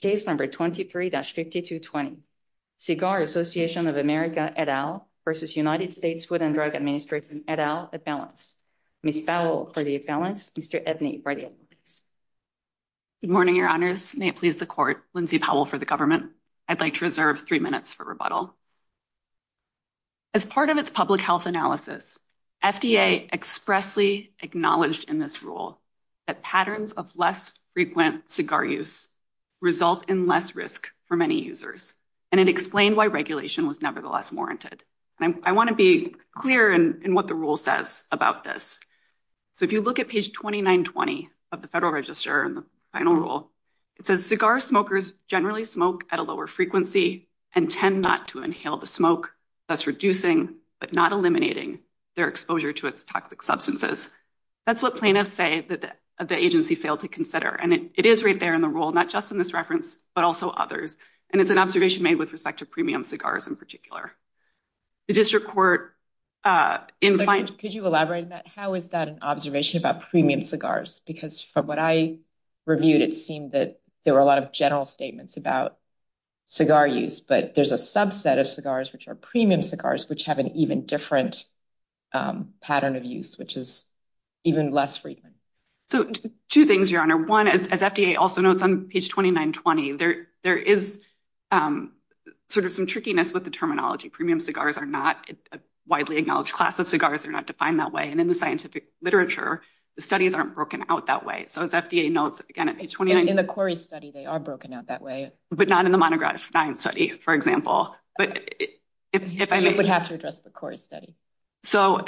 Case number 23-5220, Cigar Association of America et al. v. United States Food and Drug Administration et al. for the balance. Ms. Powell for the balance, Mr. Ebney for the evidence. Good morning, your honors. May it please the court. Lindsay Powell for the government. I'd like to reserve three minutes for rebuttal. As part of its public health analysis, FDA expressly acknowledged in this rule that patterns of less frequent cigar use result in less risk for many users, and it explained why regulation was nevertheless warranted. I want to be clear in what the rule says about this. So if you look at page 2920 of the Federal Register in the final rule, it says, Cigar smokers generally smoke at a lower frequency and tend not to inhale the smoke, thus reducing but not eliminating their exposure to its toxic substances. That's what plaintiffs say that the agency failed to consider. And it is right there in the rule, not just in this reference, but also others. And it's an observation made with respect to premium cigars in particular. The district court... Could you elaborate on that? How is that an observation about premium cigars? Because from what I reviewed, it seemed that there were a lot of general statements about cigar use, but there's a subset of cigars, which are premium cigars, which have an even different pattern of use, which is even less frequent. So two things, Your Honor. One, as FDA also notes on page 2920, there is sort of some trickiness with the terminology. Premium cigars are not a widely acknowledged class of cigars. They're not defined that way. And in the scientific literature, the studies aren't broken out that way. So as FDA notes, again, at page 2920... In the Quarry study, they are broken out that way. But not in the Monograph 9 study, for example. But if I may... You have to address the Quarry study. So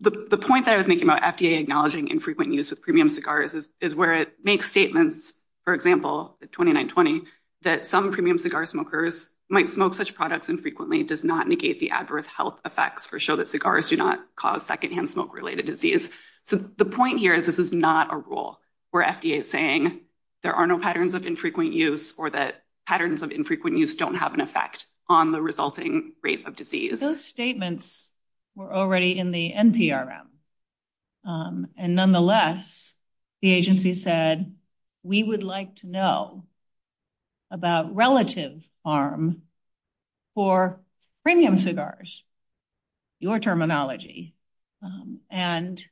the point that I was making about FDA acknowledging infrequent use with premium cigars is where it makes statements, for example, at 2920, that some premium cigar smokers might smoke such products infrequently, does not negate the adverse health effects, or show that cigars do not cause secondhand smoke-related disease. So the point here is this is not a rule, where FDA is saying there are no patterns of infrequent use, or that patterns of infrequent use don't have an effect on the resulting rate of disease. Those statements were already in the NPRM. And nonetheless, the agency said, we would like to know about relative harm for premium cigars, your terminology, and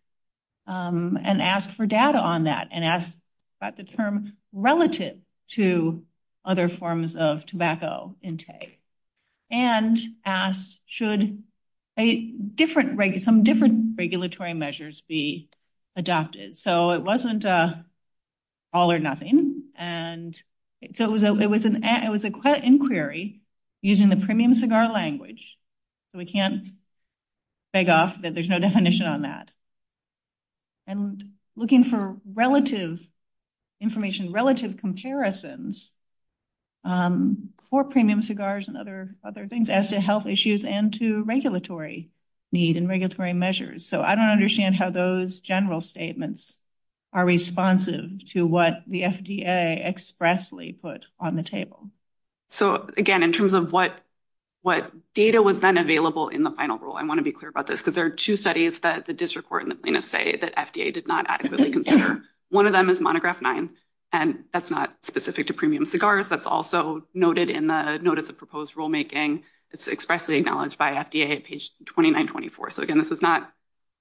asked for data on that, and asked about the term relative to other forms of tobacco intake, and asked, should some different regulatory measures be adopted? So it wasn't all or nothing. And so it was an inquiry using the premium cigar language. So we can't beg off that there's no definition on that. And looking for relative information, relative comparisons for premium cigars and other things as to health issues and to regulatory need and regulatory measures. So I don't understand how those general statements are responsive to what the FDA expressly put on the table. So again, in terms of what data was then available in the final rule, I want to be that FDA did not adequately consider. One of them is monograph nine, and that's not specific to premium cigars. That's also noted in the notice of proposed rulemaking. It's expressly acknowledged by FDA at page 2924. So again, this is not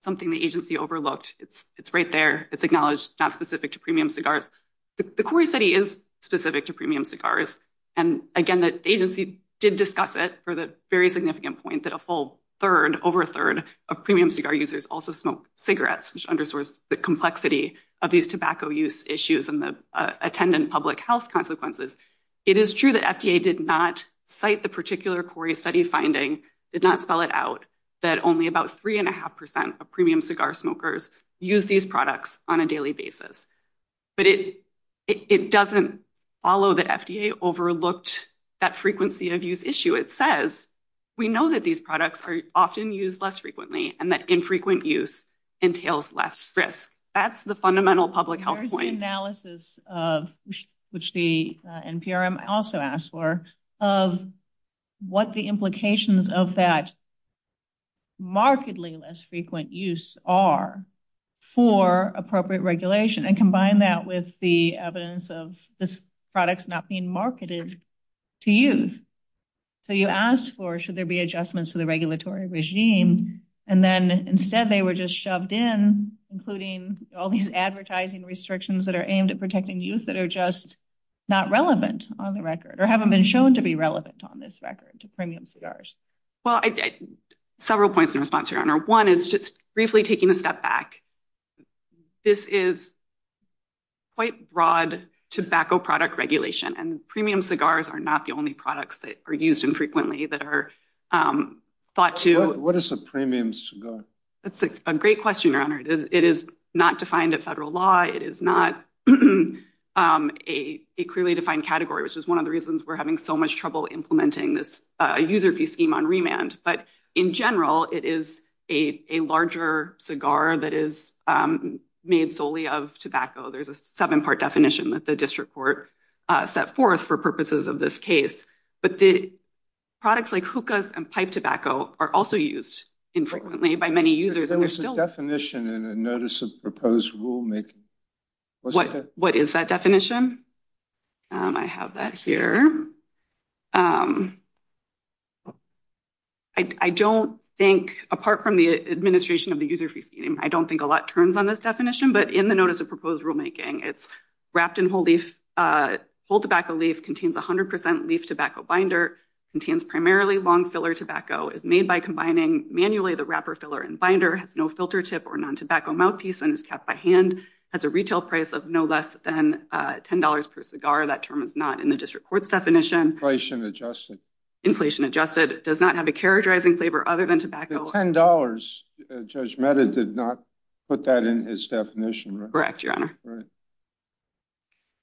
something the agency overlooked. It's right there. It's acknowledged, not specific to premium cigars. The query study is specific to premium cigars. And again, the agency did discuss it for the very significant point that a full third, over a third of premium cigar users also smoke cigarettes, which underscores the complexity of these tobacco use issues and the attendant public health consequences. It is true that FDA did not cite the particular query study finding, did not spell it out, that only about three and a half percent of premium cigar smokers use these products on a daily basis. But it doesn't follow that FDA overlooked that frequency of use issue. It says, we know that these products are often used less frequently and that infrequent use entails less risk. That's the fundamental public health point. There's an analysis of, which the NPRM also asked for, of what the implications of that markedly less frequent use are for appropriate regulation, and combine that with the evidence of these products not being marketed to youth. So you should ask for, should there be adjustments to the regulatory regime? And then instead they were just shoved in, including all these advertising restrictions that are aimed at protecting youth that are just not relevant on the record, or haven't been shown to be relevant on this record to premium cigars. Well, several points in response, Your Honor. One is just briefly taking a step back. This is quite broad tobacco product regulation and premium cigars are not the only products that are used infrequently that are thought to... What is a premium cigar? That's a great question, Your Honor. It is not defined at federal law. It is not a clearly defined category, which is one of the reasons we're having so much trouble implementing this user fee scheme on remand. But in general, it is a larger cigar that is made solely of tobacco. There's a seven part definition that the district court set forth for purposes of this case. But the products like hookahs and pipe tobacco are also used infrequently by many users. There was a definition in a notice of proposed rulemaking. What is that definition? I have that here. I don't think, apart from the administration of the user fee scheme, I don't think a lot turns on this definition. But in the notice of proposed rulemaking, it's wrapped in whole leaf, whole tobacco leaf contains 100% leaf tobacco binder, contains primarily long filler tobacco, is made by combining manually the wrapper filler and binder, has no filter tip or non-tobacco mouthpiece, and is kept by hand, has a retail price of no less than $10 per cigar. That term is not in the district court's definition. Inflation adjusted. Inflation adjusted, does not have a characterizing flavor other than tobacco. The $10, Judge Mehta did not put that in his definition. Correct, Your Honor.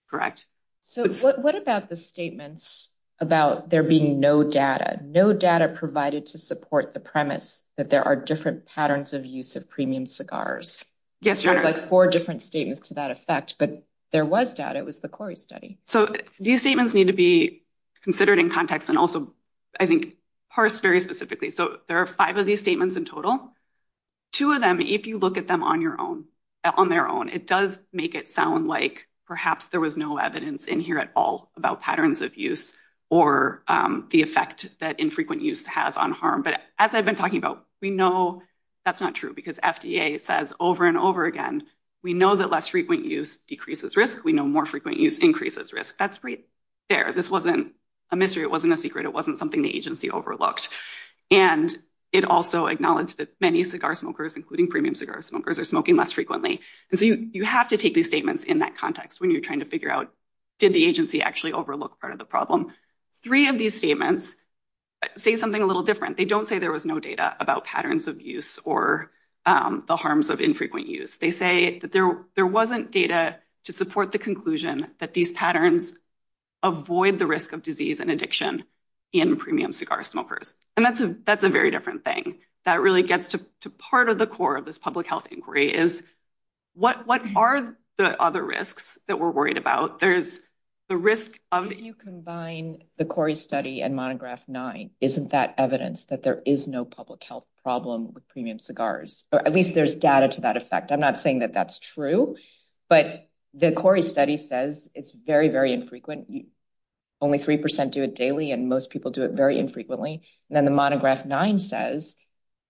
Correct. So what about the statements about there being no data, no data provided to support the premise that there are different patterns of use of premium cigars? Yes, Your Honor. There's four different statements to that effect, but there was data. It was the Corey study. So these statements need to be considered in context and also, I think, parsed very specifically. So there are five of these statements in total. Two of them, if you look at them on their own, it does make it sound like perhaps there was no evidence in here at all about patterns of use or the effect that infrequent use has on harm. But as I've been talking about, we know that's not true because FDA says over and over again, we know that less frequent use decreases risk. We know more frequent use increases risk. That's right there. This wasn't a mystery. It wasn't a secret. It wasn't something the agency overlooked. And it also acknowledged that many cigar smokers, including premium cigar smokers, are smoking less frequently. And so you have to take these statements in that context when you're trying to figure out, did the agency actually overlook part of the problem? Three of these statements say something a little different. They don't say there was no data about patterns of use or the harms of infrequent use. They say that there wasn't data to support the conclusion that these patterns avoid the risk of disease and addiction. In premium cigar smokers, and that's a that's a very different thing that really gets to part of the core of this public health inquiry is what what are the other risks that we're worried about? There's the risk of you combine the Corey study and monograph nine. Isn't that evidence that there is no public health problem with premium cigars, or at least there's data to that effect? I'm not saying that that's true, but the Corey study says it's very, very infrequent. Only three percent do it daily, and most people do it very infrequently. And then the monograph nine says,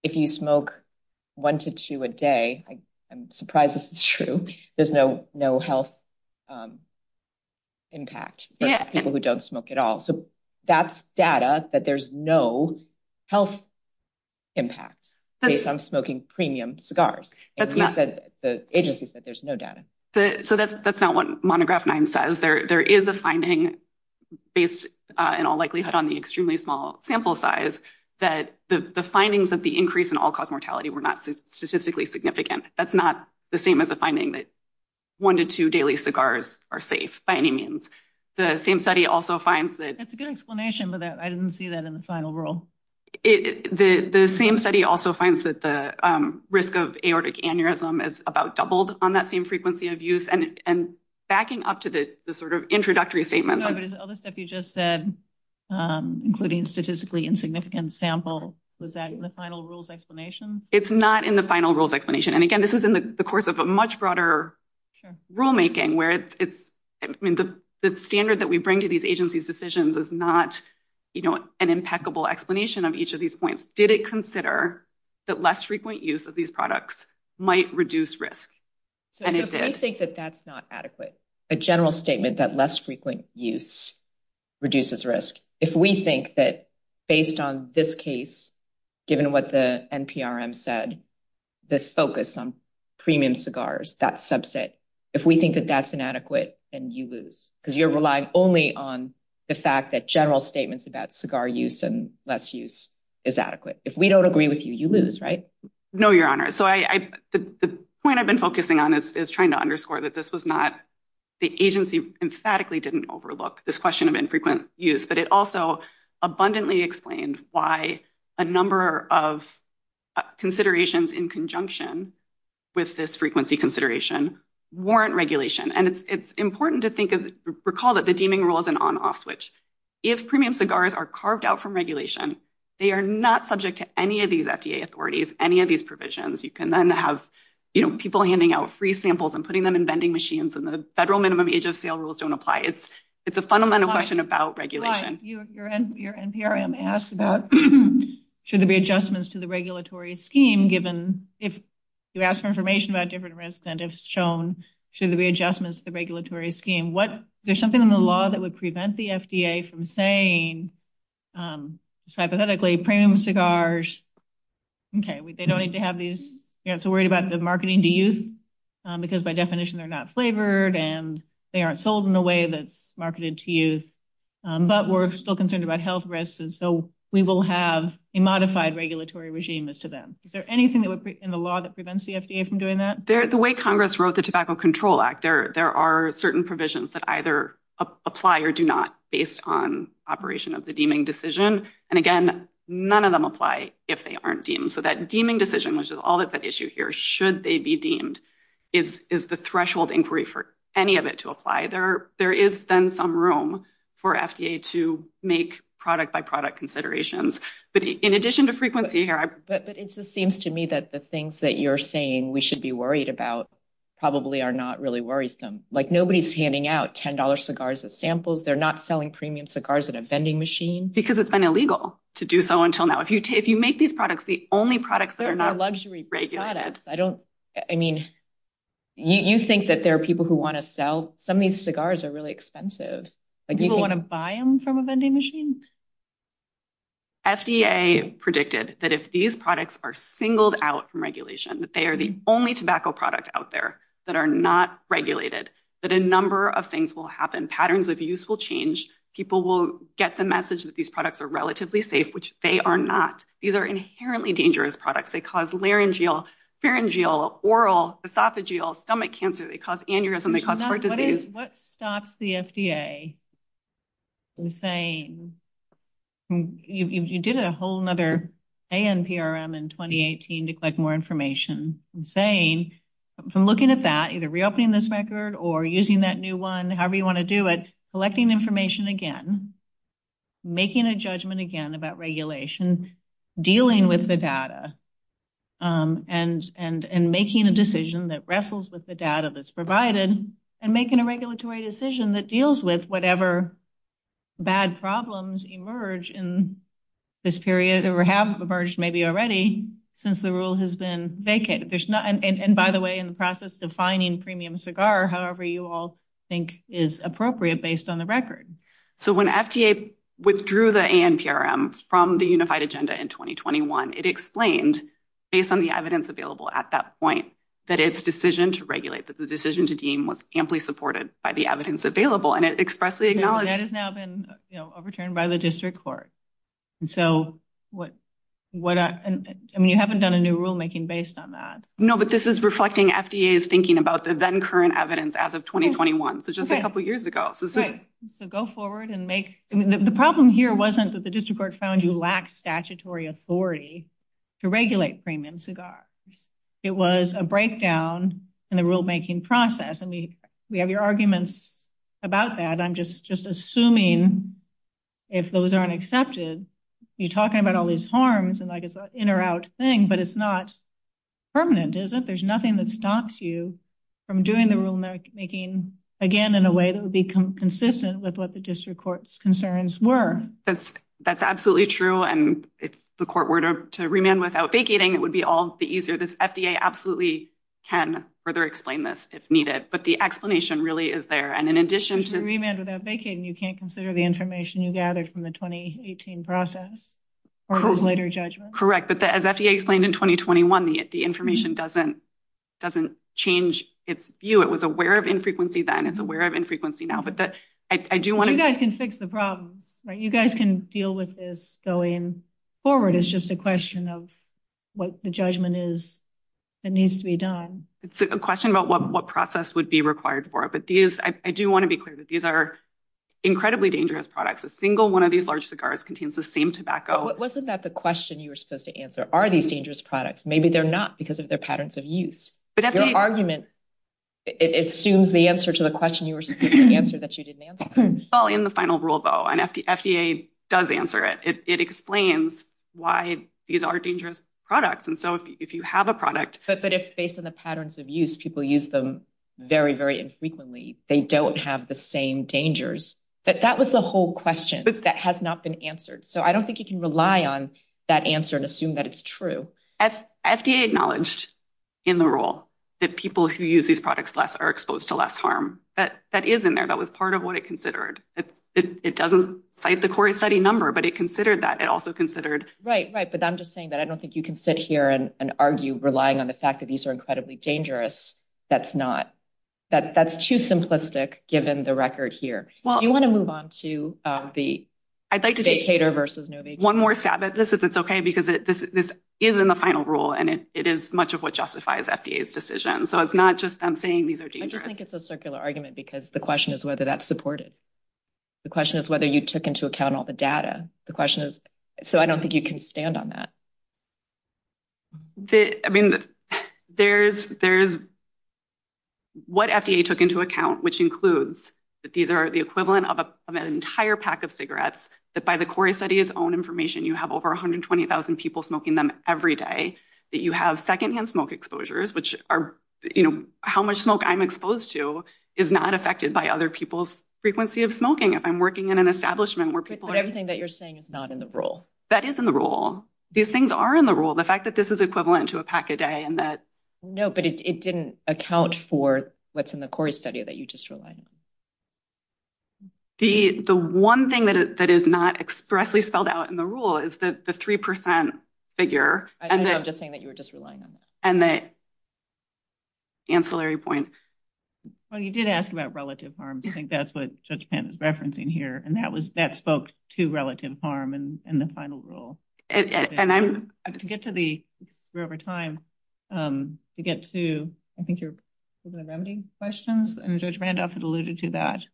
if you smoke one to two a day, I'm surprised this is true. There's no health impact for people who don't smoke at all. So that's data that there's no health impact based on smoking premium cigars. The agency said there's no data. So that's not what monograph nine says. There is a finding based in all likelihood on the extremely small sample size that the findings of the increase in all-cause mortality were not statistically significant. That's not the same as a finding that one to two daily cigars are safe by any means. The same study also finds that... It's a good explanation, but I didn't see that in the final rule. The same study also finds that the risk of aortic aneurysm is about doubled on that same frequency of use. And backing up to the sort of introductory statements... No, but is all the stuff you just said, including statistically insignificant sample, was that in the final rules explanation? It's not in the final rules explanation. And again, this is in the course of a much broader rulemaking where it's... I mean, the standard that we bring to these agencies' decisions is not an impeccable explanation of each of these points. Did it consider that less frequent use of these products might reduce risk? So if we think that that's not adequate, a general statement that less frequent use reduces risk, if we think that based on this case, given what the NPRM said, the focus on premium cigars, that subset, if we think that that's inadequate, then you lose. Because you're relying only on the fact that general statements about cigar use and less use is adequate. If we don't agree with you, you lose, right? No, Your Honor. So the point I've been focusing on is trying to underscore that this was not... The agency emphatically didn't overlook this question of infrequent use, but it also abundantly explained why a number of considerations in conjunction with this frequency consideration warrant regulation. And it's important to recall that the deeming rule is an on-off switch. If premium cigars are carved out from regulation, they are not subject to any of these FDA authorities, any of these provisions. You can then have people handing out free samples and putting them in vending machines, and the federal minimum age of sale rules don't apply. It's a fundamental question about regulation. Right. Your NPRM asked about, should there be adjustments to the regulatory scheme given... You asked for information about different risks and it's shown, should there be adjustments to the regulatory scheme? Is there something in the law that would prevent the FDA from saying, hypothetically, premium cigars, okay, they don't need to have these... You're not so worried about the marketing to youth because by definition, they're not flavored and they aren't sold in a way that's marketed to youth, but we're still concerned about health risks. And so we will have a modified regulatory regime as to them. Is there anything in the law that prevents the FDA from doing that? The way Congress wrote the Tobacco Control Act, there are certain provisions that apply or do not based on operation of the deeming decision. And again, none of them apply if they aren't deemed. So that deeming decision, which is all that's at issue here, should they be deemed is the threshold inquiry for any of it to apply. There is then some room for FDA to make product by product considerations. But in addition to frequency here... But it just seems to me that the things that you're saying we should be worried about probably are not really worrisome. Nobody's handing out $10 cigars as samples. They're not selling premium cigars at a vending machine. Because it's been illegal to do so until now. If you make these products, the only products that are not regulated... They're luxury products. You think that there are people who want to sell... Some of these cigars are really expensive. People want to buy them from a vending machine? FDA predicted that if these products are singled out from regulation, that they are the only of things will happen. Patterns of use will change. People will get the message that these products are relatively safe, which they are not. These are inherently dangerous products. They cause laryngeal, pharyngeal, oral, esophageal, stomach cancer. They cause aneurysm. They cause heart disease. What stops the FDA from saying... You did a whole other ANPRM in 2018 to collect more information. I'm saying, from looking at that, either reopening this record or using that new one, however you want to do it, collecting information again, making a judgment again about regulation, dealing with the data, and making a decision that wrestles with the data that's provided, and making a regulatory decision that deals with whatever bad problems emerge in this period, or have emerged maybe already, since the rule has been vacated. By the way, in the process defining premium cigar, however you all think is appropriate based on the record. When FDA withdrew the ANPRM from the unified agenda in 2021, it explained, based on the evidence available at that point, that its decision to regulate, that the decision to deem was amply supported by the evidence available, and it expressly acknowledged... That has now been overturned by the district court. You haven't done a new rulemaking based on that. No, but this is reflecting FDA's thinking about the then current evidence as of 2021, so just a couple of years ago. So go forward and make... The problem here wasn't that the district court found you lacked statutory authority to regulate premium cigars. It was a breakdown in the rulemaking process. We have your arguments about that. I'm just assuming if those aren't accepted, you're talking about all these harms, and it's an in or out thing, but it's not permanent, is it? There's nothing that stops you from doing the rulemaking again in a way that would be consistent with what the district court's concerns were. That's absolutely true, and if the court were to remand without vacating, it would be all easier. This FDA absolutely can further explain this if needed, but the explanation really is there, and in addition to... If you remand without vacating, you can't consider the information you gathered from the 2018 process or later judgment? Correct, but as FDA explained in 2021, the information doesn't change its view. It was aware of infrequency then. It's aware of infrequency now, but I do want to... You guys can fix the problems, right? You guys can deal with this going forward. It's just a question of what the judgment is that needs to be done. It's a question about what process would be required for it, but I do want to be clear that these are incredibly dangerous products. A single one of these large cigars contains the same tobacco. Wasn't that the question you were supposed to answer? Are these dangerous products? Maybe they're not because of their patterns of use. Your argument assumes the answer to the question you were supposed to answer that you didn't answer. Well, in the final rule though, and FDA does answer it, it explains why these are dangerous products. And so if you have a product... But if based on the patterns of use, people use them very, very infrequently, they don't have the same dangers. That was the whole question that has not been answered. So I don't think you can rely on that answer and assume that it's true. FDA acknowledged in the rule that people who use these products less are exposed to less harm. That is in there. That was part of what it considered. It doesn't cite the core study number, but it considered that. It also considered... Right, right. But I'm just saying that I don't think you can sit here and argue relying on the fact that these are incredibly dangerous. That's not... That's too simplistic given the record here. Do you want to move on to the vacator versus no vacator? One more stab at this if it's okay, because this is in the final rule and it is much of what justifies FDA's decision. So it's not just I'm saying these are dangerous. I just think it's a circular argument because the question is whether that's supported. The question is whether you took into account all the data. The question is... So I don't think you can stand on that. I mean, there's what FDA took into account, which includes that these are the equivalent of an entire pack of cigarettes, that by the core study's own information, you have over 120,000 people smoking them every day, that you have secondhand smoke exposures, which are how much I'm exposed to is not affected by other people's frequency of smoking. If I'm working in an establishment where people... But everything that you're saying is not in the rule. That is in the rule. These things are in the rule. The fact that this is equivalent to a pack a day and that... No, but it didn't account for what's in the core study that you just relied on. The one thing that is not expressly spelled out in the rule is that the 3% figure and that... I'm just saying that you were just relying on that. And the ancillary point. Well, you did ask about relative harm. I think that's what Judge Pant is referencing here. And that spoke to relative harm in the final rule. And I'm... To get to the... We're over time. To get to, I think, your remedy questions, and Judge Randolph had alluded to that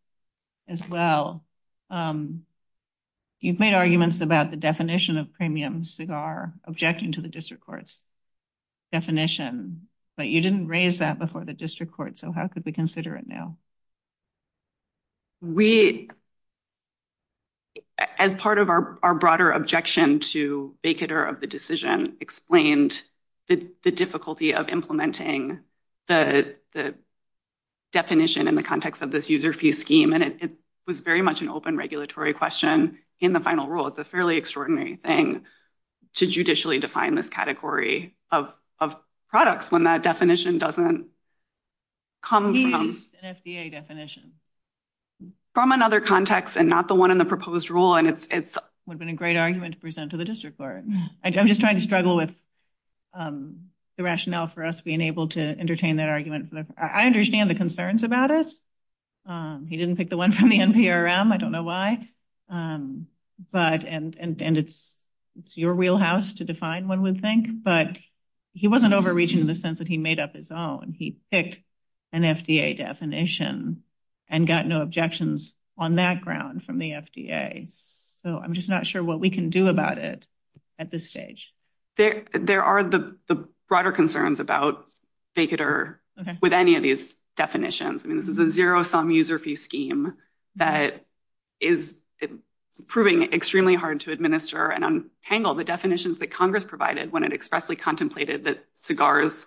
as well. You've made arguments about the definition of premium cigar objecting to the district court's definition, but you didn't raise that before the district court. So how could we consider it now? We... As part of our broader objection to vacater of the decision explained the difficulty of implementing the definition in the context of this user fee scheme. And it was very much an open regulatory question in the final rule. It's a fairly extraordinary thing to judicially define this category of products when that definition doesn't come from... He used an FDA definition. From another context and not the one in the proposed rule. And it's... Would have been a great argument to present to the district court. I'm just trying to struggle with the rationale for us being able to entertain that argument. I understand the concerns about it. He didn't pick the one from the NPRM. I don't know why. But... And it's your wheelhouse to define one would think. But he wasn't overreaching in the sense that he made up his own. He picked an FDA definition and got no objections on that ground from the FDA. So I'm just not sure what we can do about it at this stage. There are the broader concerns about vacater with any of these definitions. This is a zero-sum user fee scheme that is proving extremely hard to administer and untangle the definitions that Congress provided when it expressly contemplated that cigars...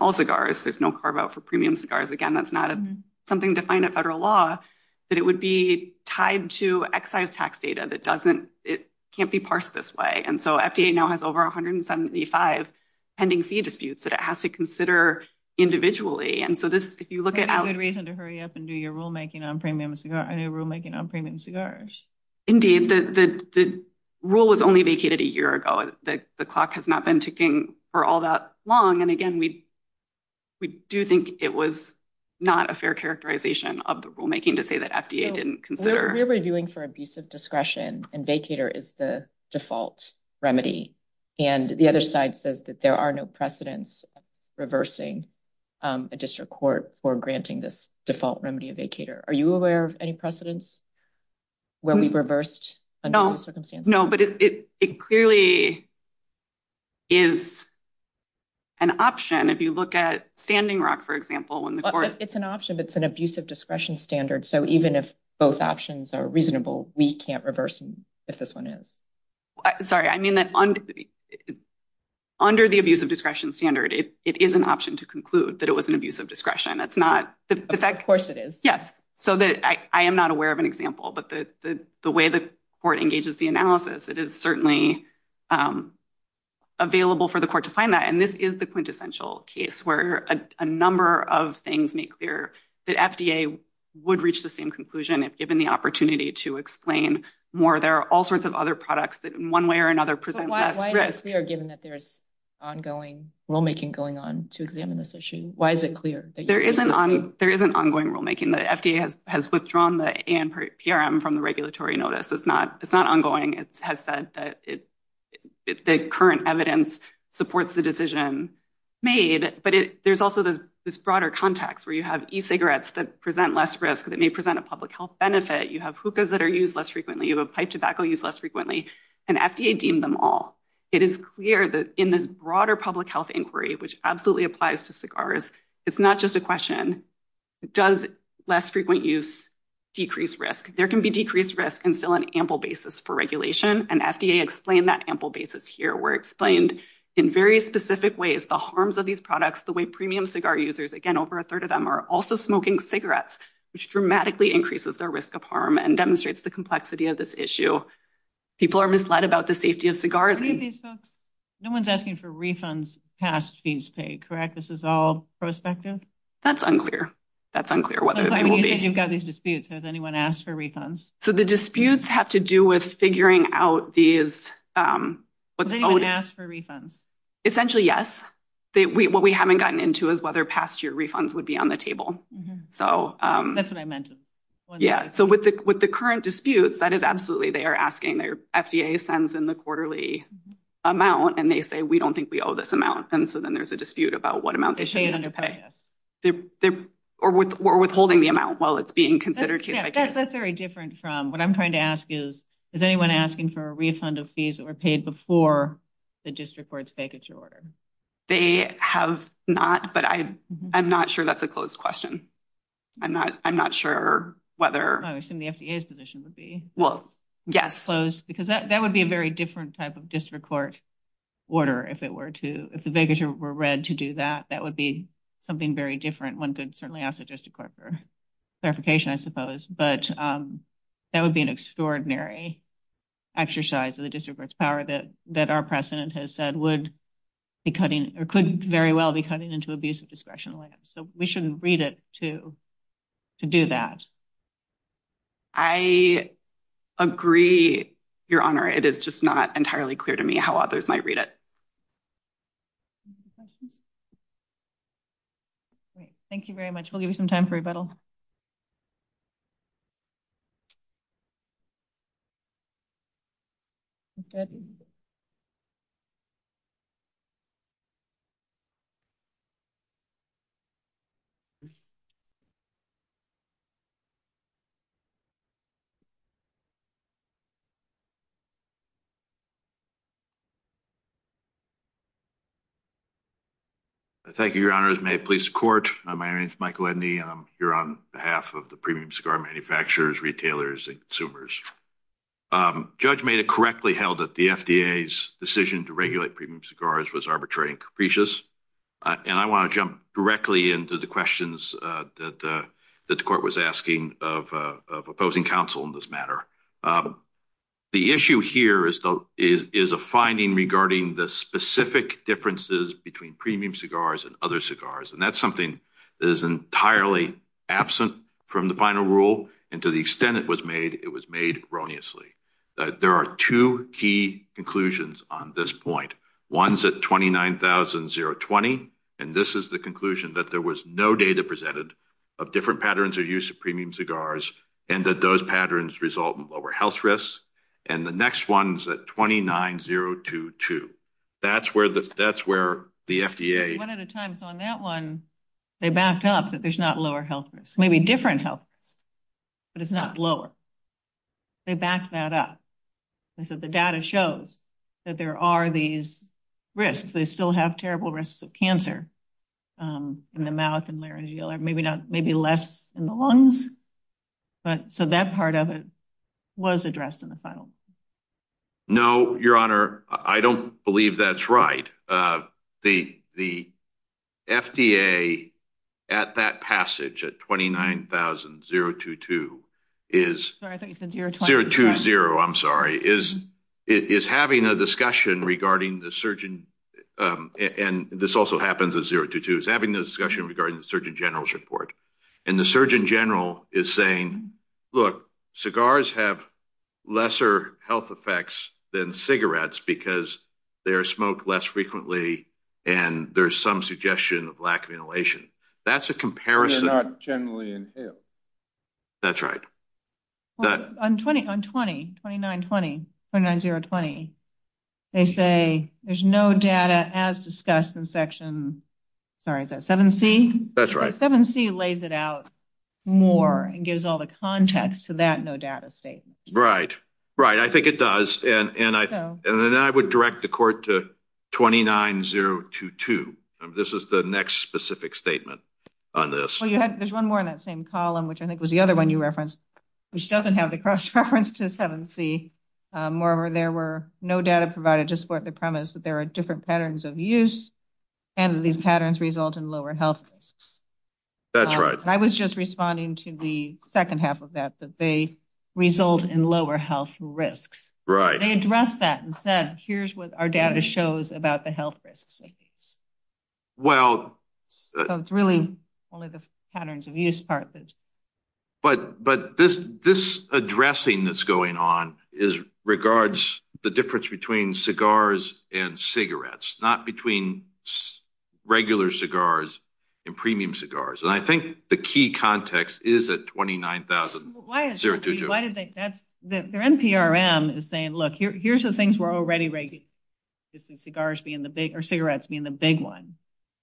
All cigars. There's no carve out for premium cigars. Again, that's not something defined at federal law. But it would be tied to excise tax data that doesn't... It can't be parsed this way. And so FDA now has over 175 pending fee disputes that it has to consider individually. And so this, if you look at... Pretty good reason to hurry up and do your rulemaking on premium cigars. I know rulemaking on premium cigars. Indeed, the rule was only vacated a year ago. The clock has not been ticking for all that long. And again, we do think it was not a fair characterization of the rulemaking to say that FDA didn't consider... We're reviewing for abusive discretion and vacater is the default remedy. And the other side says that there are no precedents reversing a district court for granting this default remedy of vacater. Are you aware of any precedents where we reversed under those circumstances? No, but it clearly is an option if you look at Standing Rock, for example, when the court... It's an option, but it's an abusive discretion standard. So even if both options are reasonable, we can't reverse them if this one is. Sorry, I mean that under the abusive discretion standard, it is an option to conclude that it was an abusive discretion. It's not... Of course it is. Yes. So I am not aware of an example, but the way the court engages the analysis, it is certainly available for the court to find that. And this is the quintessential case where a number of things make clear that FDA would reach the same conclusion if given the opportunity to explain more. There are all sorts of other products that in one way or another present less risk. Why is it clear given that there's ongoing rulemaking going on to examine this issue? Why is it clear? There is an ongoing rulemaking. The FDA has withdrawn the ANPRM from the regulatory notice. It's not ongoing. It has said that the current evidence supports the decision made. But there's also this broader context where you have e-cigarettes that present less risk, that may present a public health benefit. You have hookahs that are used less frequently. You have pipe tobacco used less frequently. And FDA deemed them all. It is clear that in this broader public health inquiry, which absolutely applies to cigars, it's not just a question, does less frequent use decrease risk? There can be decreased risk and still an ample basis for regulation. And FDA explained that ample basis here were explained in very specific ways. The harms of these products, the way premium cigar users, again, over a third of them are also smoking cigarettes, which dramatically increases their risk of harm and demonstrates the complexity of this issue. People are misled about the safety of cigars. No one's asking for refunds past fees paid, correct? This is all prospective? That's unclear. That's unclear whether they will be. You've got these disputes. Has anyone asked for refunds? So the disputes have to do with figuring out these. Has anyone asked for refunds? Essentially, yes. What we haven't gotten into is whether past year refunds would be on the table. That's what I meant. Yeah. So with the current disputes, that is absolutely they are asking. Their FDA sends in the quarterly amount and they say, we don't think we owe this amount. And so then there's a dispute about what amount they should be able to pay. Or withholding the amount while it's being considered case by case. That's very different from what I'm trying to ask is, is anyone asking for a refund of fees that were paid before the district court's vacature order? They have not, but I'm not sure that's a closed question. I'm not, I'm not sure whether. I assume the FDA's position would be. Well, yes. Because that would be a very different type of district court order if it were to, if the vacature were read to do that, that would be something very different. One could certainly ask the district court for clarification, I suppose. But that would be an extraordinary exercise of the district court's power that our president has said would be cutting or could very well be cutting into abuse of discretion. So we shouldn't read it to do that. I agree, Your Honor. It is just not entirely clear to me how others might read it. Thank you very much. We'll give you some time for rebuttal. Thank you, Your Honors. May it please the court. My name is Michael Edney, and I'm here on behalf of the premium cigar manufacturers, retailers, and consumers. Judge Maida correctly held that the FDA's decision to regulate premium cigars was arbitrary and capricious. And I want to jump directly into the questions that the court was asking of opposing counsel in this matter. The issue here is a finding regarding the specific differences between premium cigars and other cigars. And that's something that is entirely absent from the final rule. And to the extent it was made, it was made erroneously. There are two key conclusions on this point. One's at 29,020, and this is the conclusion that there was no data presented of different patterns of use of premium cigars, and that those patterns result in lower health risks. And the next one's at 29,022. That's where the FDA— One at a time. So on that one, they backed up that there's not lower health risks. Maybe different health risks, but it's not lower. They backed that up. They said the data shows that there are these risks. They still have terrible risks of cancer in the mouth and laryngeal, maybe less in the But so that part of it was addressed in the final. No, Your Honor, I don't believe that's right. The FDA at that passage, at 29,022, is— Sorry, I thought you said 020. 020, I'm sorry, is having a discussion regarding the surgeon—and this also happens at 022—is having a discussion regarding the Surgeon General's report. And the Surgeon General is saying, look, cigars have lesser health effects than cigarettes because they are smoked less frequently and there's some suggestion of lack of inhalation. That's a comparison— They're not generally inhaled. That's right. But on 29,020, they say there's no data as discussed in section—sorry, is that 7C? That's right. 7C lays it out more and gives all the context to that no data statement. Right, right. I think it does. And then I would direct the court to 29,022. This is the next specific statement on this. Well, there's one more in that same column, which I think was the other one you referenced. Which doesn't have the cross-reference to 7C, moreover, there were no data provided to support the premise that there are different patterns of use and that these patterns result in lower health risks. That's right. I was just responding to the second half of that, that they result in lower health risks. Right. They addressed that and said, here's what our data shows about the health risks of these. Well— So it's really only the patterns of use part that's— But this addressing that's going on regards the difference between cigars and cigarettes, not between regular cigars and premium cigars. And I think the key context is at 29,022. Well, why is that? Their NPRM is saying, look, here's the things we're already—cigarettes being the big one.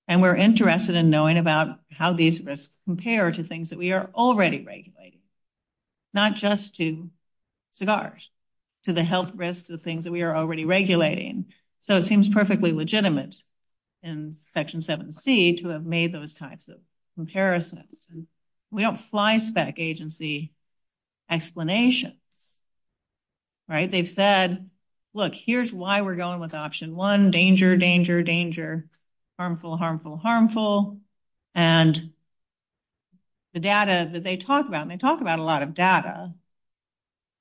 And we're interested in knowing about how these risks compare to things that we are already regulating, not just to cigars, to the health risks, to the things that we are already regulating. So it seems perfectly legitimate in Section 7C to have made those types of comparisons. And we don't fly spec agency explanations. Right. They've said, look, here's why we're going with option one, danger, danger, danger. Harmful, harmful, harmful. And the data that they talk about, they talk about a lot of data,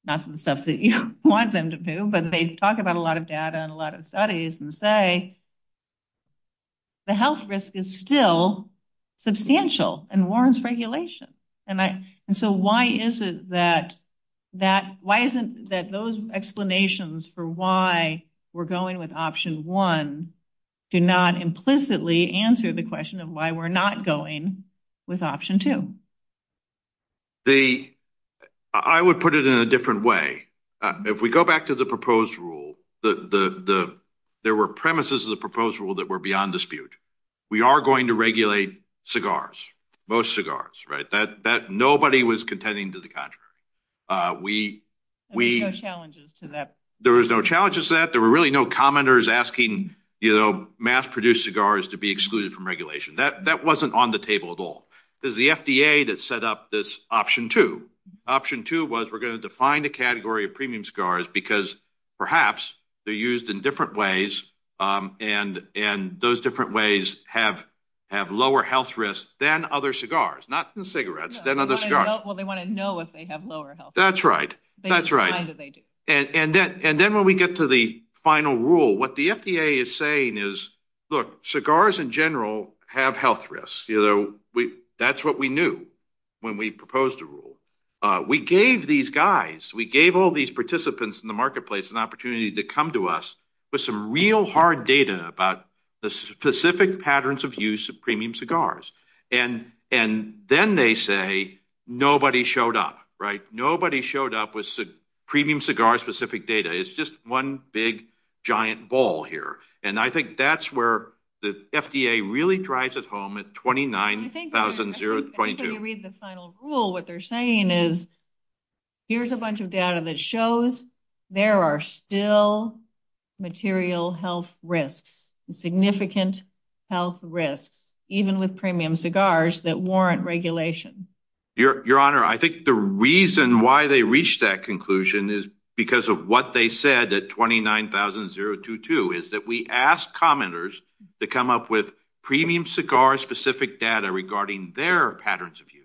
not the stuff that you want them to do, but they talk about a lot of data and a lot of studies and say, the health risk is still substantial and warrants regulation. And so why is it that those explanations for why we're going with option one do not implicitly answer the question of why we're not going with option two? The—I would put it in a different way. If we go back to the proposed rule, the—there were premises of the proposed rule that were beyond dispute. We are going to regulate cigars, most cigars, right? That—nobody was contending to the contrary. We— There were no challenges to that. There was no challenges to that. There were really no commenters asking mass-produced cigars to be excluded from regulation. That wasn't on the table at all. It was the FDA that set up this option two. Option two was we're going to define the category of premium cigars because perhaps they're used in different ways and those different ways have lower health risks than other cigars, not the cigarettes, than other cigars. Well, they want to know if they have lower health risks. That's right. That's right. And then when we get to the final rule, what the FDA is saying is, look, cigars in general have health risks. That's what we knew when we proposed the rule. We gave these guys, we gave all these participants in the marketplace an opportunity to come to us with some real hard data about the specific patterns of use of premium cigars. And then they say nobody showed up, right? Nobody showed up with premium cigar-specific data. It's just one big, giant ball here. And I think that's where the FDA really drives it home at 29,022. I think when you read the final rule, what they're saying is, here's a bunch of data that shows there are still material health risks, significant health risks, even with premium cigars that warrant regulation. Your Honor, I think the reason why they reached that conclusion is because of what they said at 29,022, is that we asked commenters to come up with premium cigar-specific data regarding their patterns of use.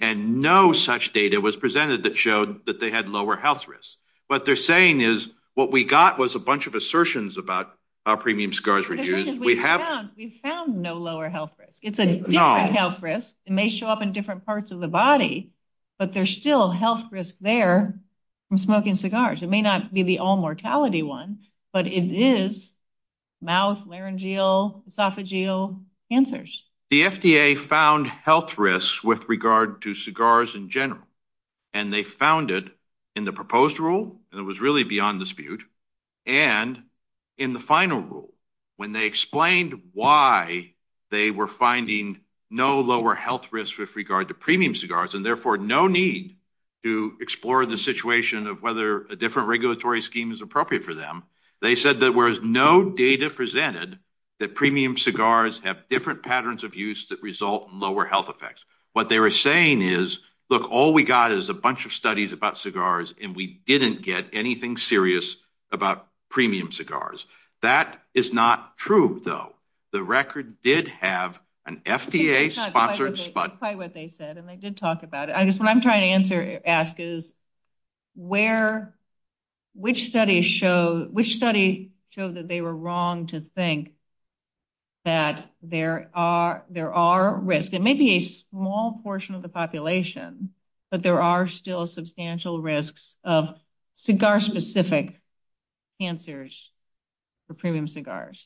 And no such data was presented that showed that they had lower health risks. What they're saying is, what we got was a bunch of assertions about how premium cigars were used. We found no lower health risk. It's a different health risk. It may show up in different parts of the body, but there's still health risk there from smoking cigars. It may not be the all-mortality one, but it is mouth, laryngeal, esophageal cancers. The FDA found health risks with regard to cigars in general. And they found it in the proposed rule, and it was really beyond dispute, and in the final rule, when they explained why they were finding no lower health risk with regard to premium cigars, and therefore no need to explore the situation of whether a different regulatory scheme is appropriate for them, they said that whereas no data presented that premium cigars have different patterns of use that result in lower health effects, what they were saying is, look, all we got is a bunch of studies about cigars, and we didn't get anything serious about premium cigars. That is not true, though. The record did have an FDA-sponsored study. That's quite what they said, and they did talk about it. I guess what I'm trying to ask is, which study showed that they were wrong to think that there are risks? It may be a small portion of the population, but there are still substantial risks of cigar-specific cancers for premium cigars.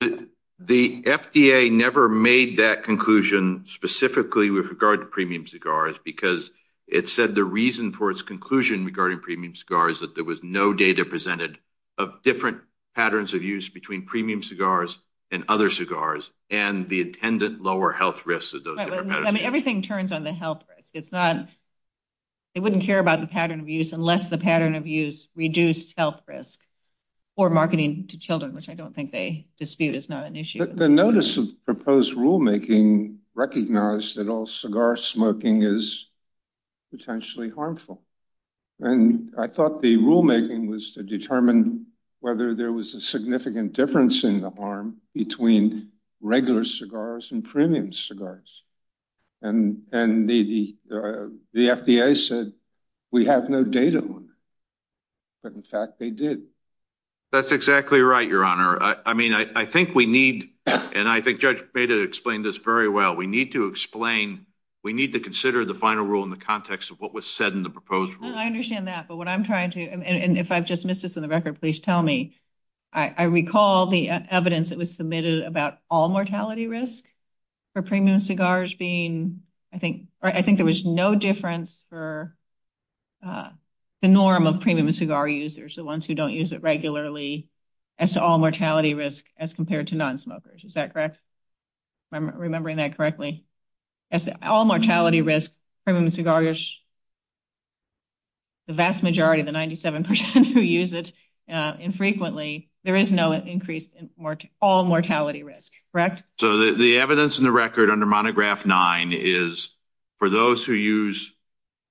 The FDA never made that conclusion specifically with regard to premium cigars because it said the reason for its conclusion regarding premium cigars is that there was no data presented of different patterns of use between premium cigars and other cigars and the attendant lower health risks of those different patterns. Everything turns on the health risk. They wouldn't care about the pattern of use unless the pattern of use reduced health risk or marketing to children, which I don't think they dispute is not an issue. The notice of proposed rulemaking recognized that all cigar smoking is potentially harmful. I thought the rulemaking was to determine whether there was a significant difference between regular cigars and premium cigars. The FDA said we have no data on it, but in fact, they did. That's exactly right, Your Honor. I think Judge Beda explained this very well. We need to consider the final rule in the context of what was said in the proposed rule. I understand that, but what I'm trying to—and if I've just missed this on the record, please tell me—I recall the evidence that was submitted about all mortality risk for premium cigars being—I think there was no difference for the norm of premium cigar users, the ones who don't use it regularly, as to all mortality risk as compared to non-smokers. Is that correct? Am I remembering that correctly? As to all mortality risk, premium cigars, the vast majority, the 97 percent who use it, infrequently, there is no increase in all mortality risk. So the evidence in the record under monograph nine is for those who use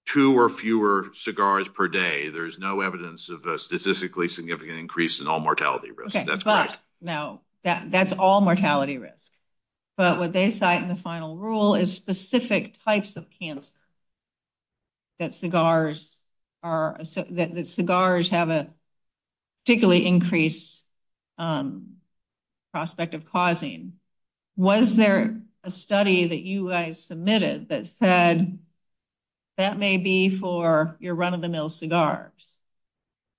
two or fewer cigars per day, there's no evidence of a statistically significant increase in all mortality risk. No, that's all mortality risk. But what they cite in the final rule is specific types of cancer that cigars have a particularly increased prospect of causing. Was there a study that you guys submitted that said that may be for your run-of-the-mill cigars,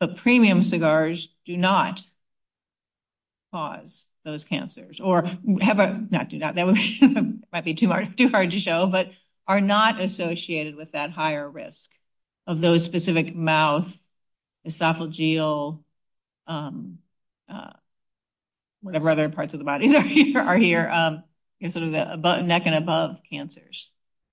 but premium cigars do not cause those cancers or have a—not do not, that might be too hard to show, but are not associated with that higher risk of those specific mouth, esophageal, whatever other parts of the body are here, sort of the neck and above cancers?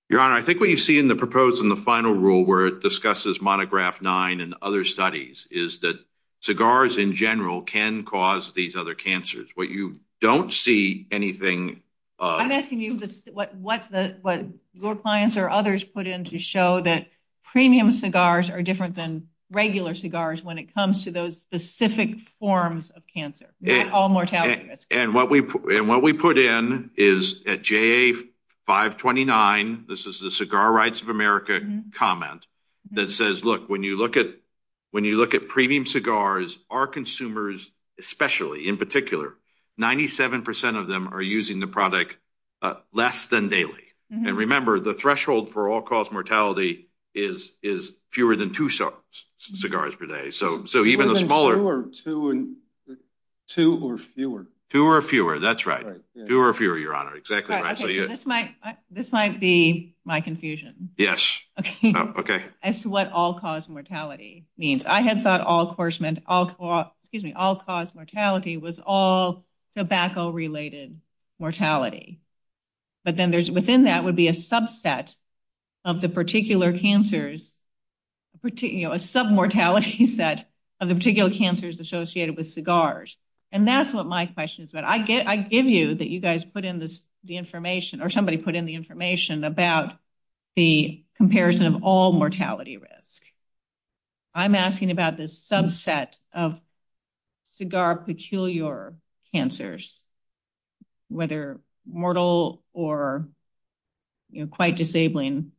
Your Honor, I think what you see in the proposed in the final rule where it discusses monograph nine and other studies is that cigars in general can cause these other cancers. What you don't see anything of— I'm asking you what your clients or others put in to show that premium cigars are different than regular cigars when it comes to those specific forms of cancer, all mortality risk. And what we put in is at JA 529, this is the Cigar Rights of America comment that says, when you look at premium cigars, our consumers especially, in particular, 97% of them are using the product less than daily. And remember, the threshold for all-cause mortality is fewer than two cigars per day. So even the smaller— Fewer than two or fewer. Two or fewer, that's right. Two or fewer, Your Honor. Exactly right. This might be my confusion. Yes. Okay. As to what all-cause mortality means. I had thought all-cause mortality was all tobacco-related mortality. But then within that would be a subset of the particular cancers, a sub-mortality set of the particular cancers associated with cigars. And that's what my question is about. I give you that you guys put in the information or somebody put in the information about the comparison of all-mortality risk. I'm asking about this subset of cigar-peculiar cancers, whether mortal or quite disabling.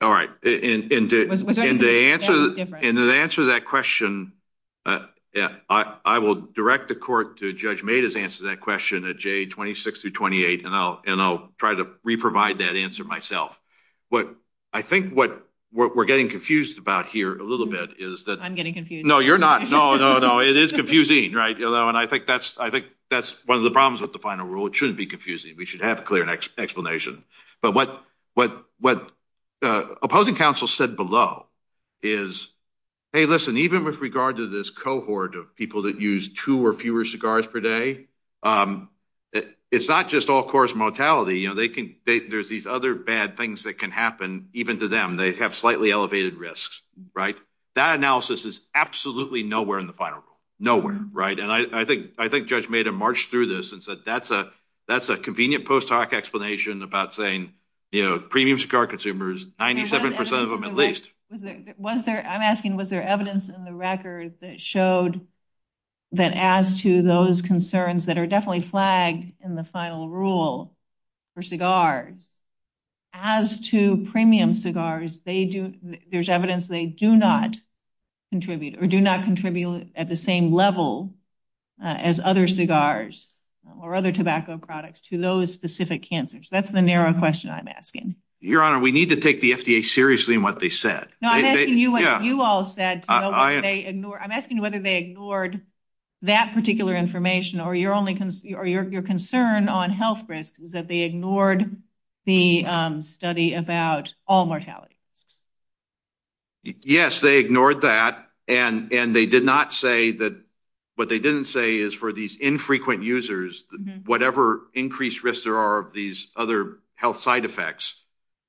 All right. And to answer that question, I will direct the court to Judge Mada's answer to that question at J26-28, and I'll try to re-provide that answer myself. I think what we're getting confused about here a little bit is that— I'm getting confused. No, you're not. No, no, no. It is confusing, right? And I think that's one of the problems with the final rule. It shouldn't be confusing. We should have a clear explanation. But what opposing counsel said below is, hey, listen, even with regard to this cohort of that use two or fewer cigars per day, it's not just all-course mortality. There's these other bad things that can happen even to them. They have slightly elevated risks, right? That analysis is absolutely nowhere in the final rule. Nowhere, right? And I think Judge Mada marched through this and said that's a convenient post-hoc explanation about saying premium cigar consumers, 97 percent of them at least— I'm asking, was there evidence in the record that showed that as to those concerns that are definitely flagged in the final rule for cigars, as to premium cigars, there's evidence they do not contribute or do not contribute at the same level as other cigars or other tobacco products to those specific cancers? That's the narrow question I'm asking. Your Honor, we need to take the FDA seriously in what they said. No, I'm asking you what you all said. I'm asking whether they ignored that particular information or your concern on health risks is that they ignored the study about all mortality risks. Yes, they ignored that. And they did not say that—what they didn't say is for these infrequent users, whatever increased risks there are of these other health side effects,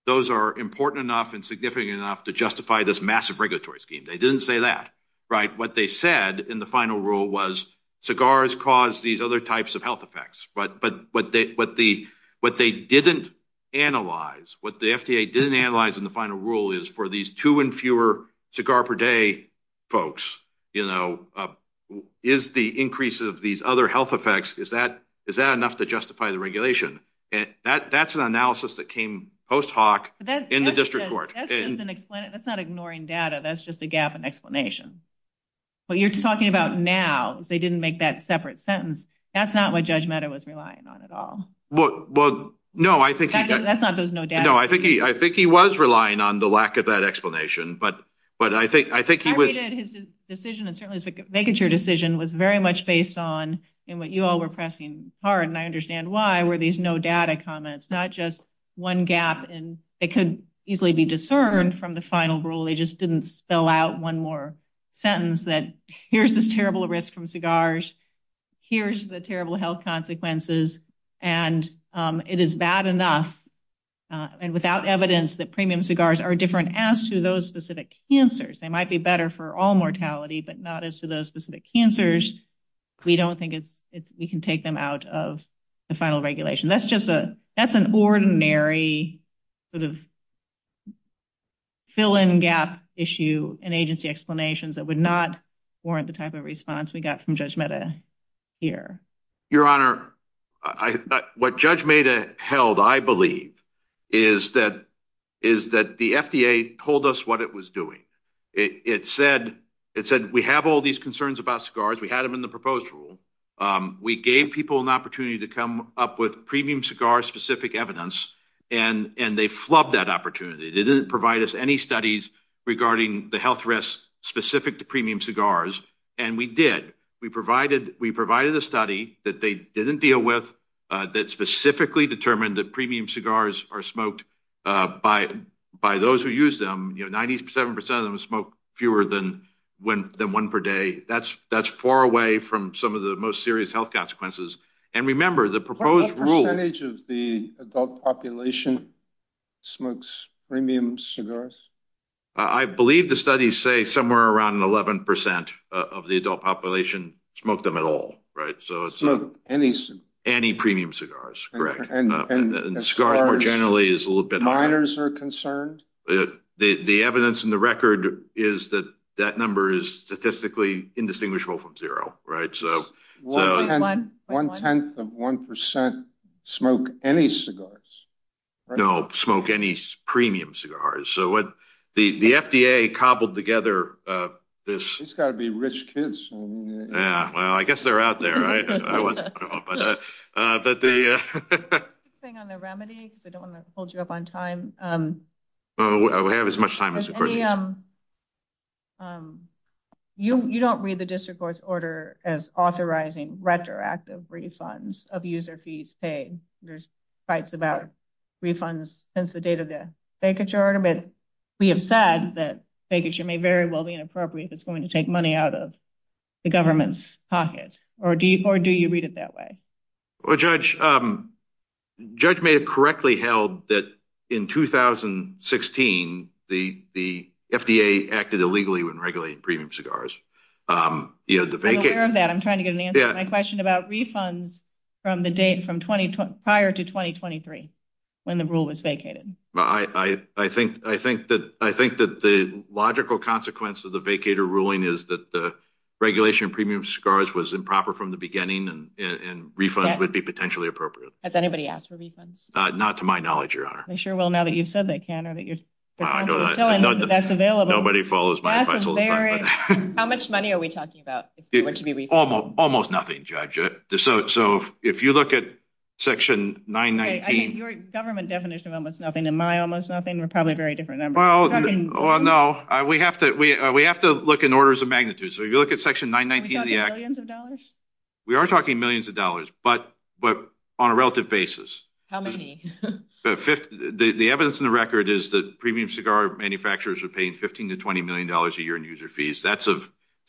those are important enough and significant enough to justify this massive regulatory scheme. They didn't say that, right? What they said in the final rule was cigars cause these other types of health effects. But what they didn't analyze, what the FDA didn't analyze in the final rule is for these two and fewer cigar-per-day folks, you know, is the increase of these other health effects, is that enough to justify the regulation? And that's an analysis that came post hoc in the district court. That's not ignoring data. That's just a gap in explanation. What you're talking about now is they didn't make that separate sentence. That's not what Judge Mehta was relying on at all. Well, no, I think— That's not those no data— No, I think he was relying on the lack of that explanation. But I think he was— His decision and certainly his vacature decision was very much based on, and what you all were pressing hard, and I understand why, were these no data comments, not just one gap. And it could easily be discerned from the final rule. They just didn't spell out one more sentence that here's this terrible risk from cigars, here's the terrible health consequences, and it is bad enough and without evidence that premium cigars are different as to those specific cancers. They might be better for all mortality, but not as to those specific cancers. We don't think it's— We can take them out of the final regulation. That's just a— That's an ordinary sort of fill-in-gap issue and agency explanations that would not warrant the type of response we got from Judge Mehta here. Your Honor, what Judge Mehta held, I believe, is that the FDA told us what it was doing. It said, we have all these concerns about cigars. We had them in the proposed rule. We gave people an opportunity to come up with premium cigar-specific evidence, and they flubbed that opportunity. They didn't provide us any studies regarding the health risks specific to premium cigars, and we did. We provided a study that they didn't deal with that specifically determined that premium cigars are smoked by those who use them. Ninety-seven percent of them smoke fewer than one per day. That's far away from some of the most serious health consequences. And remember, the proposed rule— What percentage of the adult population smokes premium cigars? I believe the studies say somewhere around 11 percent of the adult population smoke them at all, right? So it's— Smoke any— Any premium cigars, correct. And cigars, more generally, is a little bit higher. Minors are concerned? The evidence in the record is that that number is statistically indistinguishable from zero, right? One-tenth of one percent smoke any cigars. No, smoke any premium cigars. So what the FDA cobbled together this— It's got to be rich kids. Yeah, well, I guess they're out there, right? But the— Quick thing on the remedy, because I don't want to hold you up on time. Well, we have as much time as the court needs. You don't read the district court's order as authorizing retroactive refunds of user fees paid. There's fights about refunds since the date of the vacature order, but we have said that vacature may very well be inappropriate if it's going to take money out of the government's pocket. Or do you read it that way? Well, Judge, Judge may have correctly held that in 2016, the FDA acted illegally when regulating premium cigars. I'm aware of that. I'm trying to get an answer to my question about refunds from the date from prior to 2023, when the rule was vacated. I think that the logical consequence of the vacator ruling is that the regulation of premium cigars was improper from the beginning, and refunds would be potentially appropriate. Has anybody asked for refunds? Not to my knowledge, Your Honor. They sure will now that you've said they can or that you're telling them that's available. Nobody follows my advice all the time. How much money are we talking about if it were to be refunded? Almost nothing, Judge. So if you look at Section 919— I think your government definition of almost nothing and my almost nothing are probably a very different number. Well, no. We have to look in orders of magnitude. So if you look at Section 919— Are we talking millions of dollars? We are talking millions of dollars, but on a relative basis. How many? The evidence in the record is that premium cigar manufacturers are paying $15 to $20 million a year in user fees. That's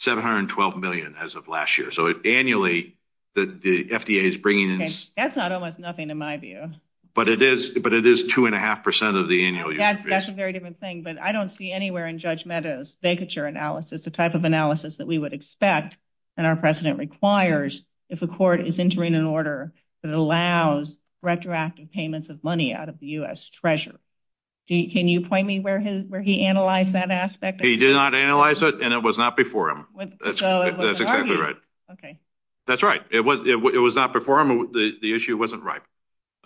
$712 million as of last year. So annually, the FDA is bringing in— That's not almost nothing in my view. But it is 2.5 percent of the annual user fees. That's a very different thing, but I don't see anywhere in Judge Mehta's vacature analysis, the type of analysis that we would expect and our precedent requires, if a court is entering an order that allows retroactive payments of money out of the U.S. treasurer. Can you point me where he analyzed that aspect? He did not analyze it, and it was not before him. That's exactly right. Okay. That's right. It was not before him. The issue wasn't ripe.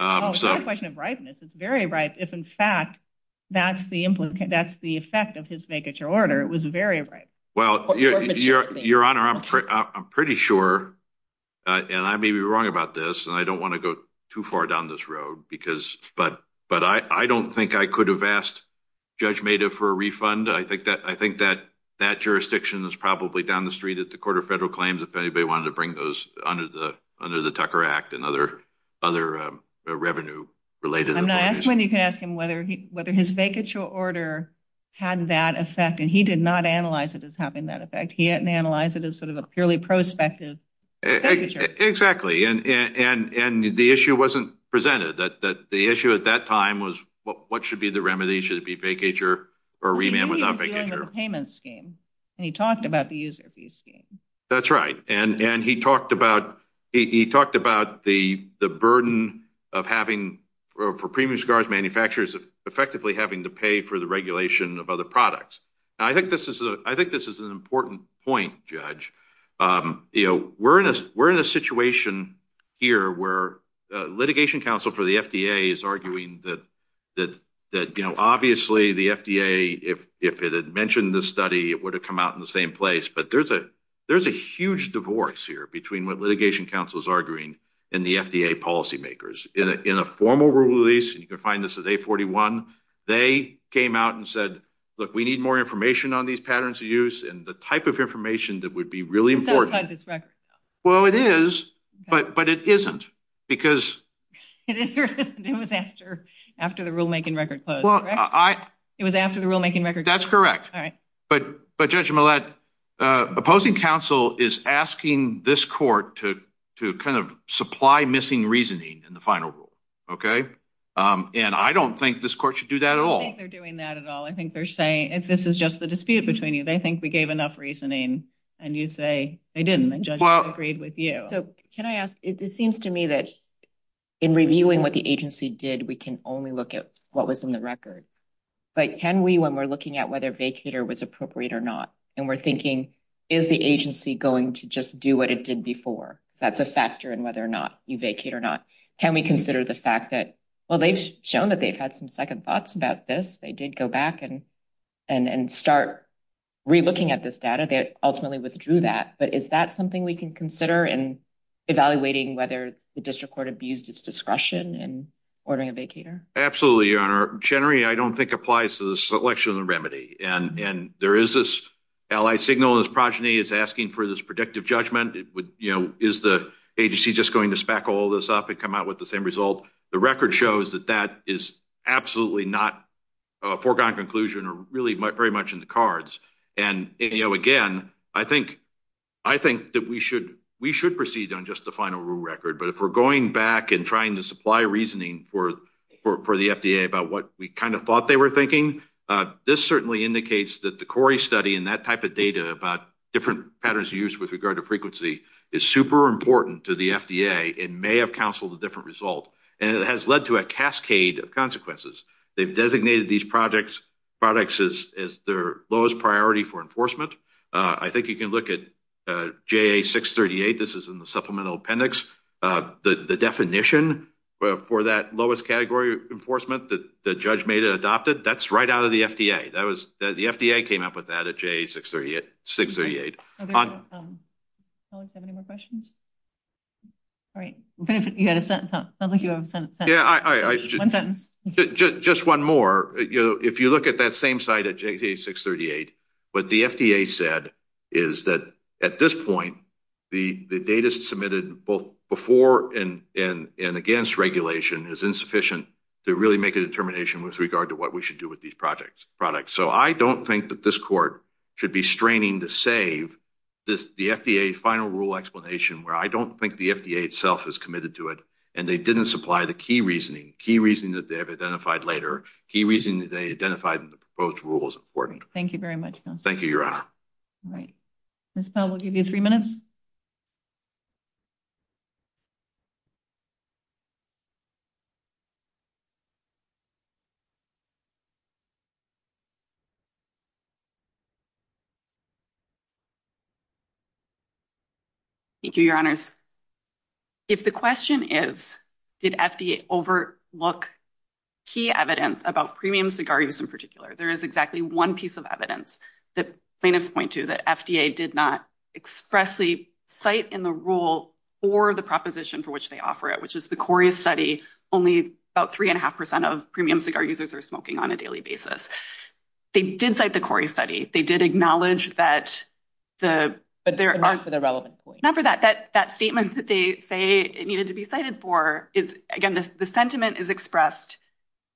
It's not a question of ripeness. It's very ripe. If, in fact, that's the effect of his vacature order, it was very ripe. Your Honor, I'm pretty sure, and I may be wrong about this, and I don't want to go too far down this road, but I don't think I could have asked Judge Mehta for a refund. I think that jurisdiction is probably down the street at the Court of Federal Claims if anybody wanted to bring those under the Tucker Act and other revenue-related— I'm not asking whether you can ask him whether his vacature order had that effect, and he did not analyze it as having that effect. He didn't analyze it as sort of a purely prospective vacature. Exactly, and the issue wasn't presented. The issue at that time was what should be the remedy. Should it be vacature or remand without vacature? He was dealing with the payment scheme, and he talked about the user fee scheme. That's right, and he talked about the burden of having—for premiums guards, manufacturers—of effectively having to pay for the regulation of other products. I think this is an important point, Judge. We're in a situation here where the Litigation Council for the FDA is arguing that obviously the FDA, if it had mentioned this study, it would have come out in the same place, but there's a huge divorce here between what Litigation Council is arguing and the FDA policymakers. In a formal rule release—and you can find this at 841—they came out and said, look, we need more information on these patterns of use and the type of information that would be really important. It's outside this record, though. Well, it is, but it isn't because— It is or isn't? It was after the rulemaking record closed, correct? It was after the rulemaking record closed. That's correct, but Judge Millett, opposing counsel is asking this court to kind of supply missing reasoning in the final rule, okay? And I don't think this court should do that at all. I don't think they're doing that at all. If this is just the dispute between you, they think we gave enough reasoning, and you say they didn't, and judges agreed with you. So can I ask, it seems to me that in reviewing what the agency did, we can only look at what was in the record. But can we, when we're looking at whether vacator was appropriate or not, and we're thinking, is the agency going to just do what it did before? That's a factor in whether or not you vacate or not. Can we consider the fact that, well, they've shown that they've had some second thoughts about this. They did go back and start relooking at this data. They ultimately withdrew that. But is that something we can consider in evaluating whether the district court abused its discretion in ordering a vacator? Absolutely, Your Honor. Generally, I don't think applies to the selection of the remedy. And there is this allied signal, this progeny is asking for this predictive judgment. Is the agency just going to spackle all this up and come out with the same result? The record shows that that is absolutely not a foregone conclusion or really very much in the cards. And again, I think that we should proceed on just the final rule record. But if we're going back and trying to supply reasoning for the FDA about what we kind of thought they were thinking, this certainly indicates that the Cori study and that type of data about different patterns of use with regard to frequency is super important to the FDA and may have counseled a different result. It has led to a cascade of consequences. They've designated these products as their lowest priority for enforcement. I think you can look at JA-638. This is in the supplemental appendix. The definition for that lowest category of enforcement that the judge made and adopted, that's right out of the FDA. The FDA came up with that at JA-638. Colleagues, do you have any more questions? All right. It sounds like you have a sentence. Yeah. Just one more. If you look at that same site at JA-638, what the FDA said is that at this point, the data submitted both before and against regulation is insufficient to really make a determination with regard to what we should do with these products. So I don't think that this court should be straining to save the FDA final rule explanation where I don't think the FDA itself is committed to it and they didn't supply the key reasoning, key reasoning that they have identified later, key reasoning that they identified in the proposed rule is important. Thank you very much, Counselor. Thank you, Your Honor. All right. Ms. Powell, we'll give you three minutes. Thank you, Your Honors. If the question is, did FDA overlook key evidence about premium cigar use in particular, there is exactly one piece of evidence that plaintiffs point to that FDA did not expressly provide cite in the rule for the proposition for which they offer it, which is the Cori study, only about three and a half percent of premium cigar users are smoking on a daily basis. They did cite the Cori study. They did acknowledge that the— But not for the relevant point. Not for that. That statement that they say it needed to be cited for is, again, the sentiment is expressed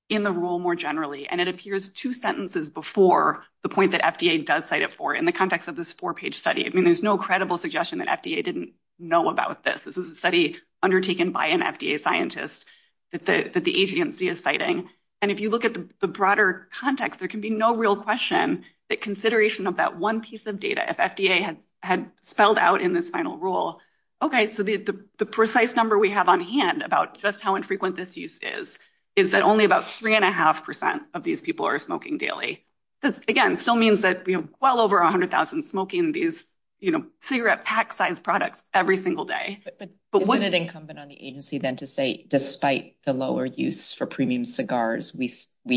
in the rule more generally, and it appears two sentences before the point that FDA does cite it for in the context of this four-page study. There's no credible suggestion that FDA didn't know about this. This is a study undertaken by an FDA scientist that the agency is citing. And if you look at the broader context, there can be no real question that consideration of that one piece of data, if FDA had spelled out in this final rule, okay, so the precise number we have on hand about just how infrequent this use is, is that only about three and a half percent of these people are smoking daily. This, again, still means that we have well over 100,000 smoking these, you know, cigarette pack-sized products every single day. But isn't it incumbent on the agency then to say, despite the lower use for premium cigars, we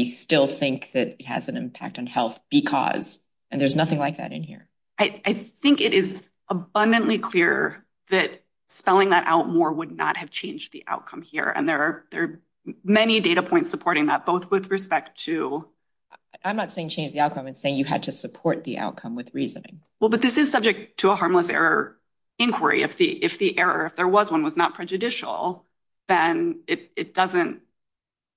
still think that it has an impact on health because—and there's nothing like that in here. I think it is abundantly clear that spelling that out more would not have changed the outcome here, and there are many data points supporting that, both with respect to— I'm not saying change the outcome. I'm saying you had to support the outcome with reasoning. Well, but this is subject to a harmless error inquiry. If the error, if there was one, was not prejudicial, then it doesn't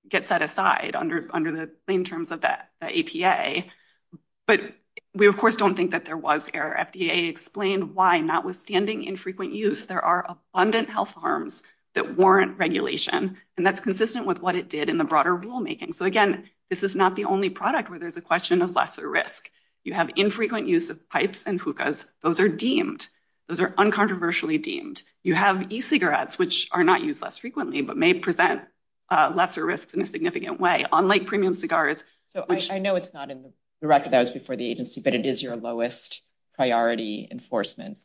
get set aside under the plain terms of the APA. But we, of course, don't think that there was error. FDA explained why, notwithstanding infrequent use, there are abundant health harms that warrant regulation, and that's consistent with what it did in the broader rulemaking. So again, this is not the only product where there's a question of lesser risk. You have infrequent use of pipes and hookahs. Those are deemed. Those are uncontroversially deemed. You have e-cigarettes, which are not used less frequently, but may present lesser risk in a significant way, unlike premium cigars. So I know it's not in the record that was before the agency, but it is your lowest priority enforcement,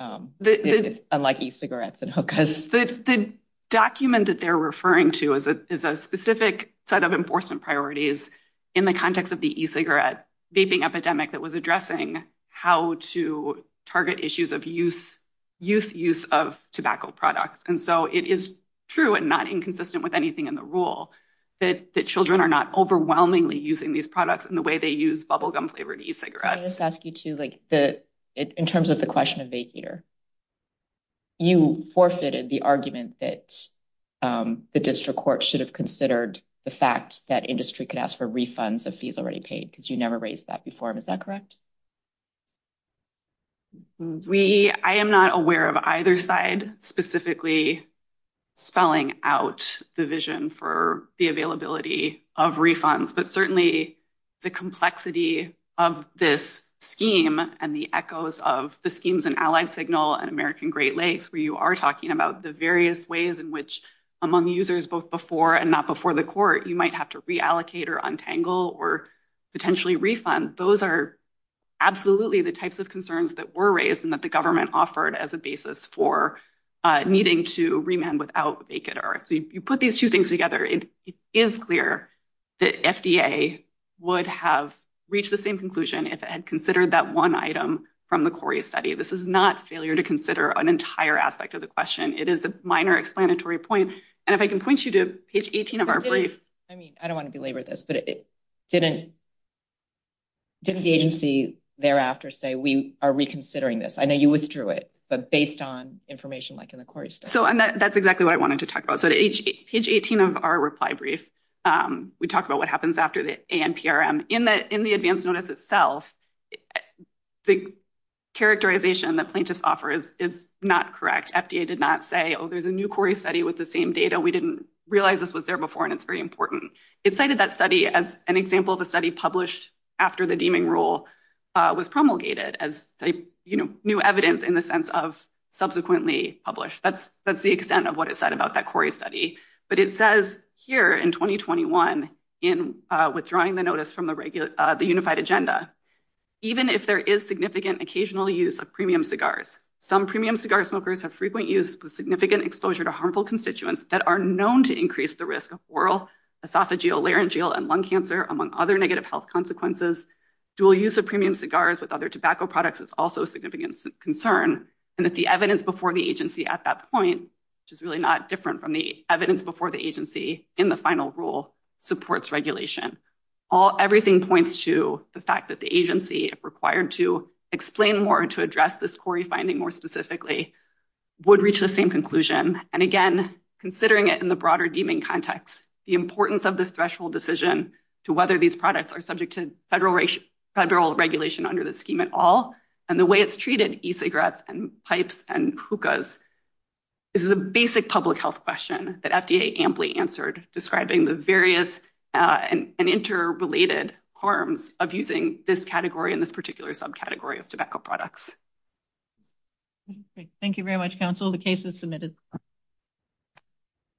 unlike e-cigarettes and hookahs. The document that they're referring to is a specific set of enforcement priorities in the context of the e-cigarette vaping epidemic that was addressing how to target issues of youth use of tobacco products. And so it is true and not inconsistent with anything in the rule that children are not overwhelmingly using these products in the way they use bubblegum-flavored e-cigarettes. Can I just ask you, too, in terms of the question of vape eater, you forfeited the argument that the district court should have considered the fact that industry could ask for refunds of fees already paid, because you never raised that before. Is that correct? I am not aware of either side specifically spelling out the vision for the availability of refunds, but certainly the complexity of this scheme and the echoes of the schemes and allied signal and American Great Lakes, where you are talking about the various ways in which among users, both before and not before the court, you might have to reallocate or untangle or potentially refund. Those are absolutely the types of concerns that were raised and that the government offered as a basis for needing to remand without vape eater. You put these two things together. It is clear that FDA would have reached the same conclusion if it had considered that one item from the Cori study. This is not failure to consider an entire aspect of the question. It is a minor explanatory point. And if I can point you to page 18 of our brief. I don't want to belabor this, but didn't the agency thereafter say, we are reconsidering this? I know you withdrew it, but based on information like in the Cori study? That's exactly what I wanted to talk about. Page 18 of our reply brief, we talk about what happens after the ANPRM. In the advance notice itself, the characterization that plaintiffs offer is not correct. FDA did not say, oh, there's a new Cori study with the same data. We didn't realize this was there before, and it's very important. It cited that study as an example of a study published after the deeming rule was promulgated as new evidence in the sense of subsequently published. That's the extent of what it said about that Cori study. But it says here in 2021 in withdrawing the notice from the unified agenda. Even if there is significant occasional use of premium cigars, some premium cigar smokers have frequent use with significant exposure to harmful constituents that are known to increase the risk of oral, esophageal, laryngeal, and lung cancer, among other negative health consequences. Dual use of premium cigars with other tobacco products is also a significant concern. And that the evidence before the agency at that point, which is really not different from the evidence before the agency in the final rule, supports regulation. Everything points to the fact that the agency, if required to explain more and to address this Cori finding more specifically, would reach the same conclusion. And again, considering it in the broader deeming context, the importance of this threshold decision to whether these products are subject to federal regulation under the scheme at all, and the way it's treated, e-cigarettes and pipes and hookahs, this is a basic public health question that FDA amply answered describing the various and interrelated harms of using this category in this particular subcategory of tobacco products. Thank you very much, counsel. The case is submitted.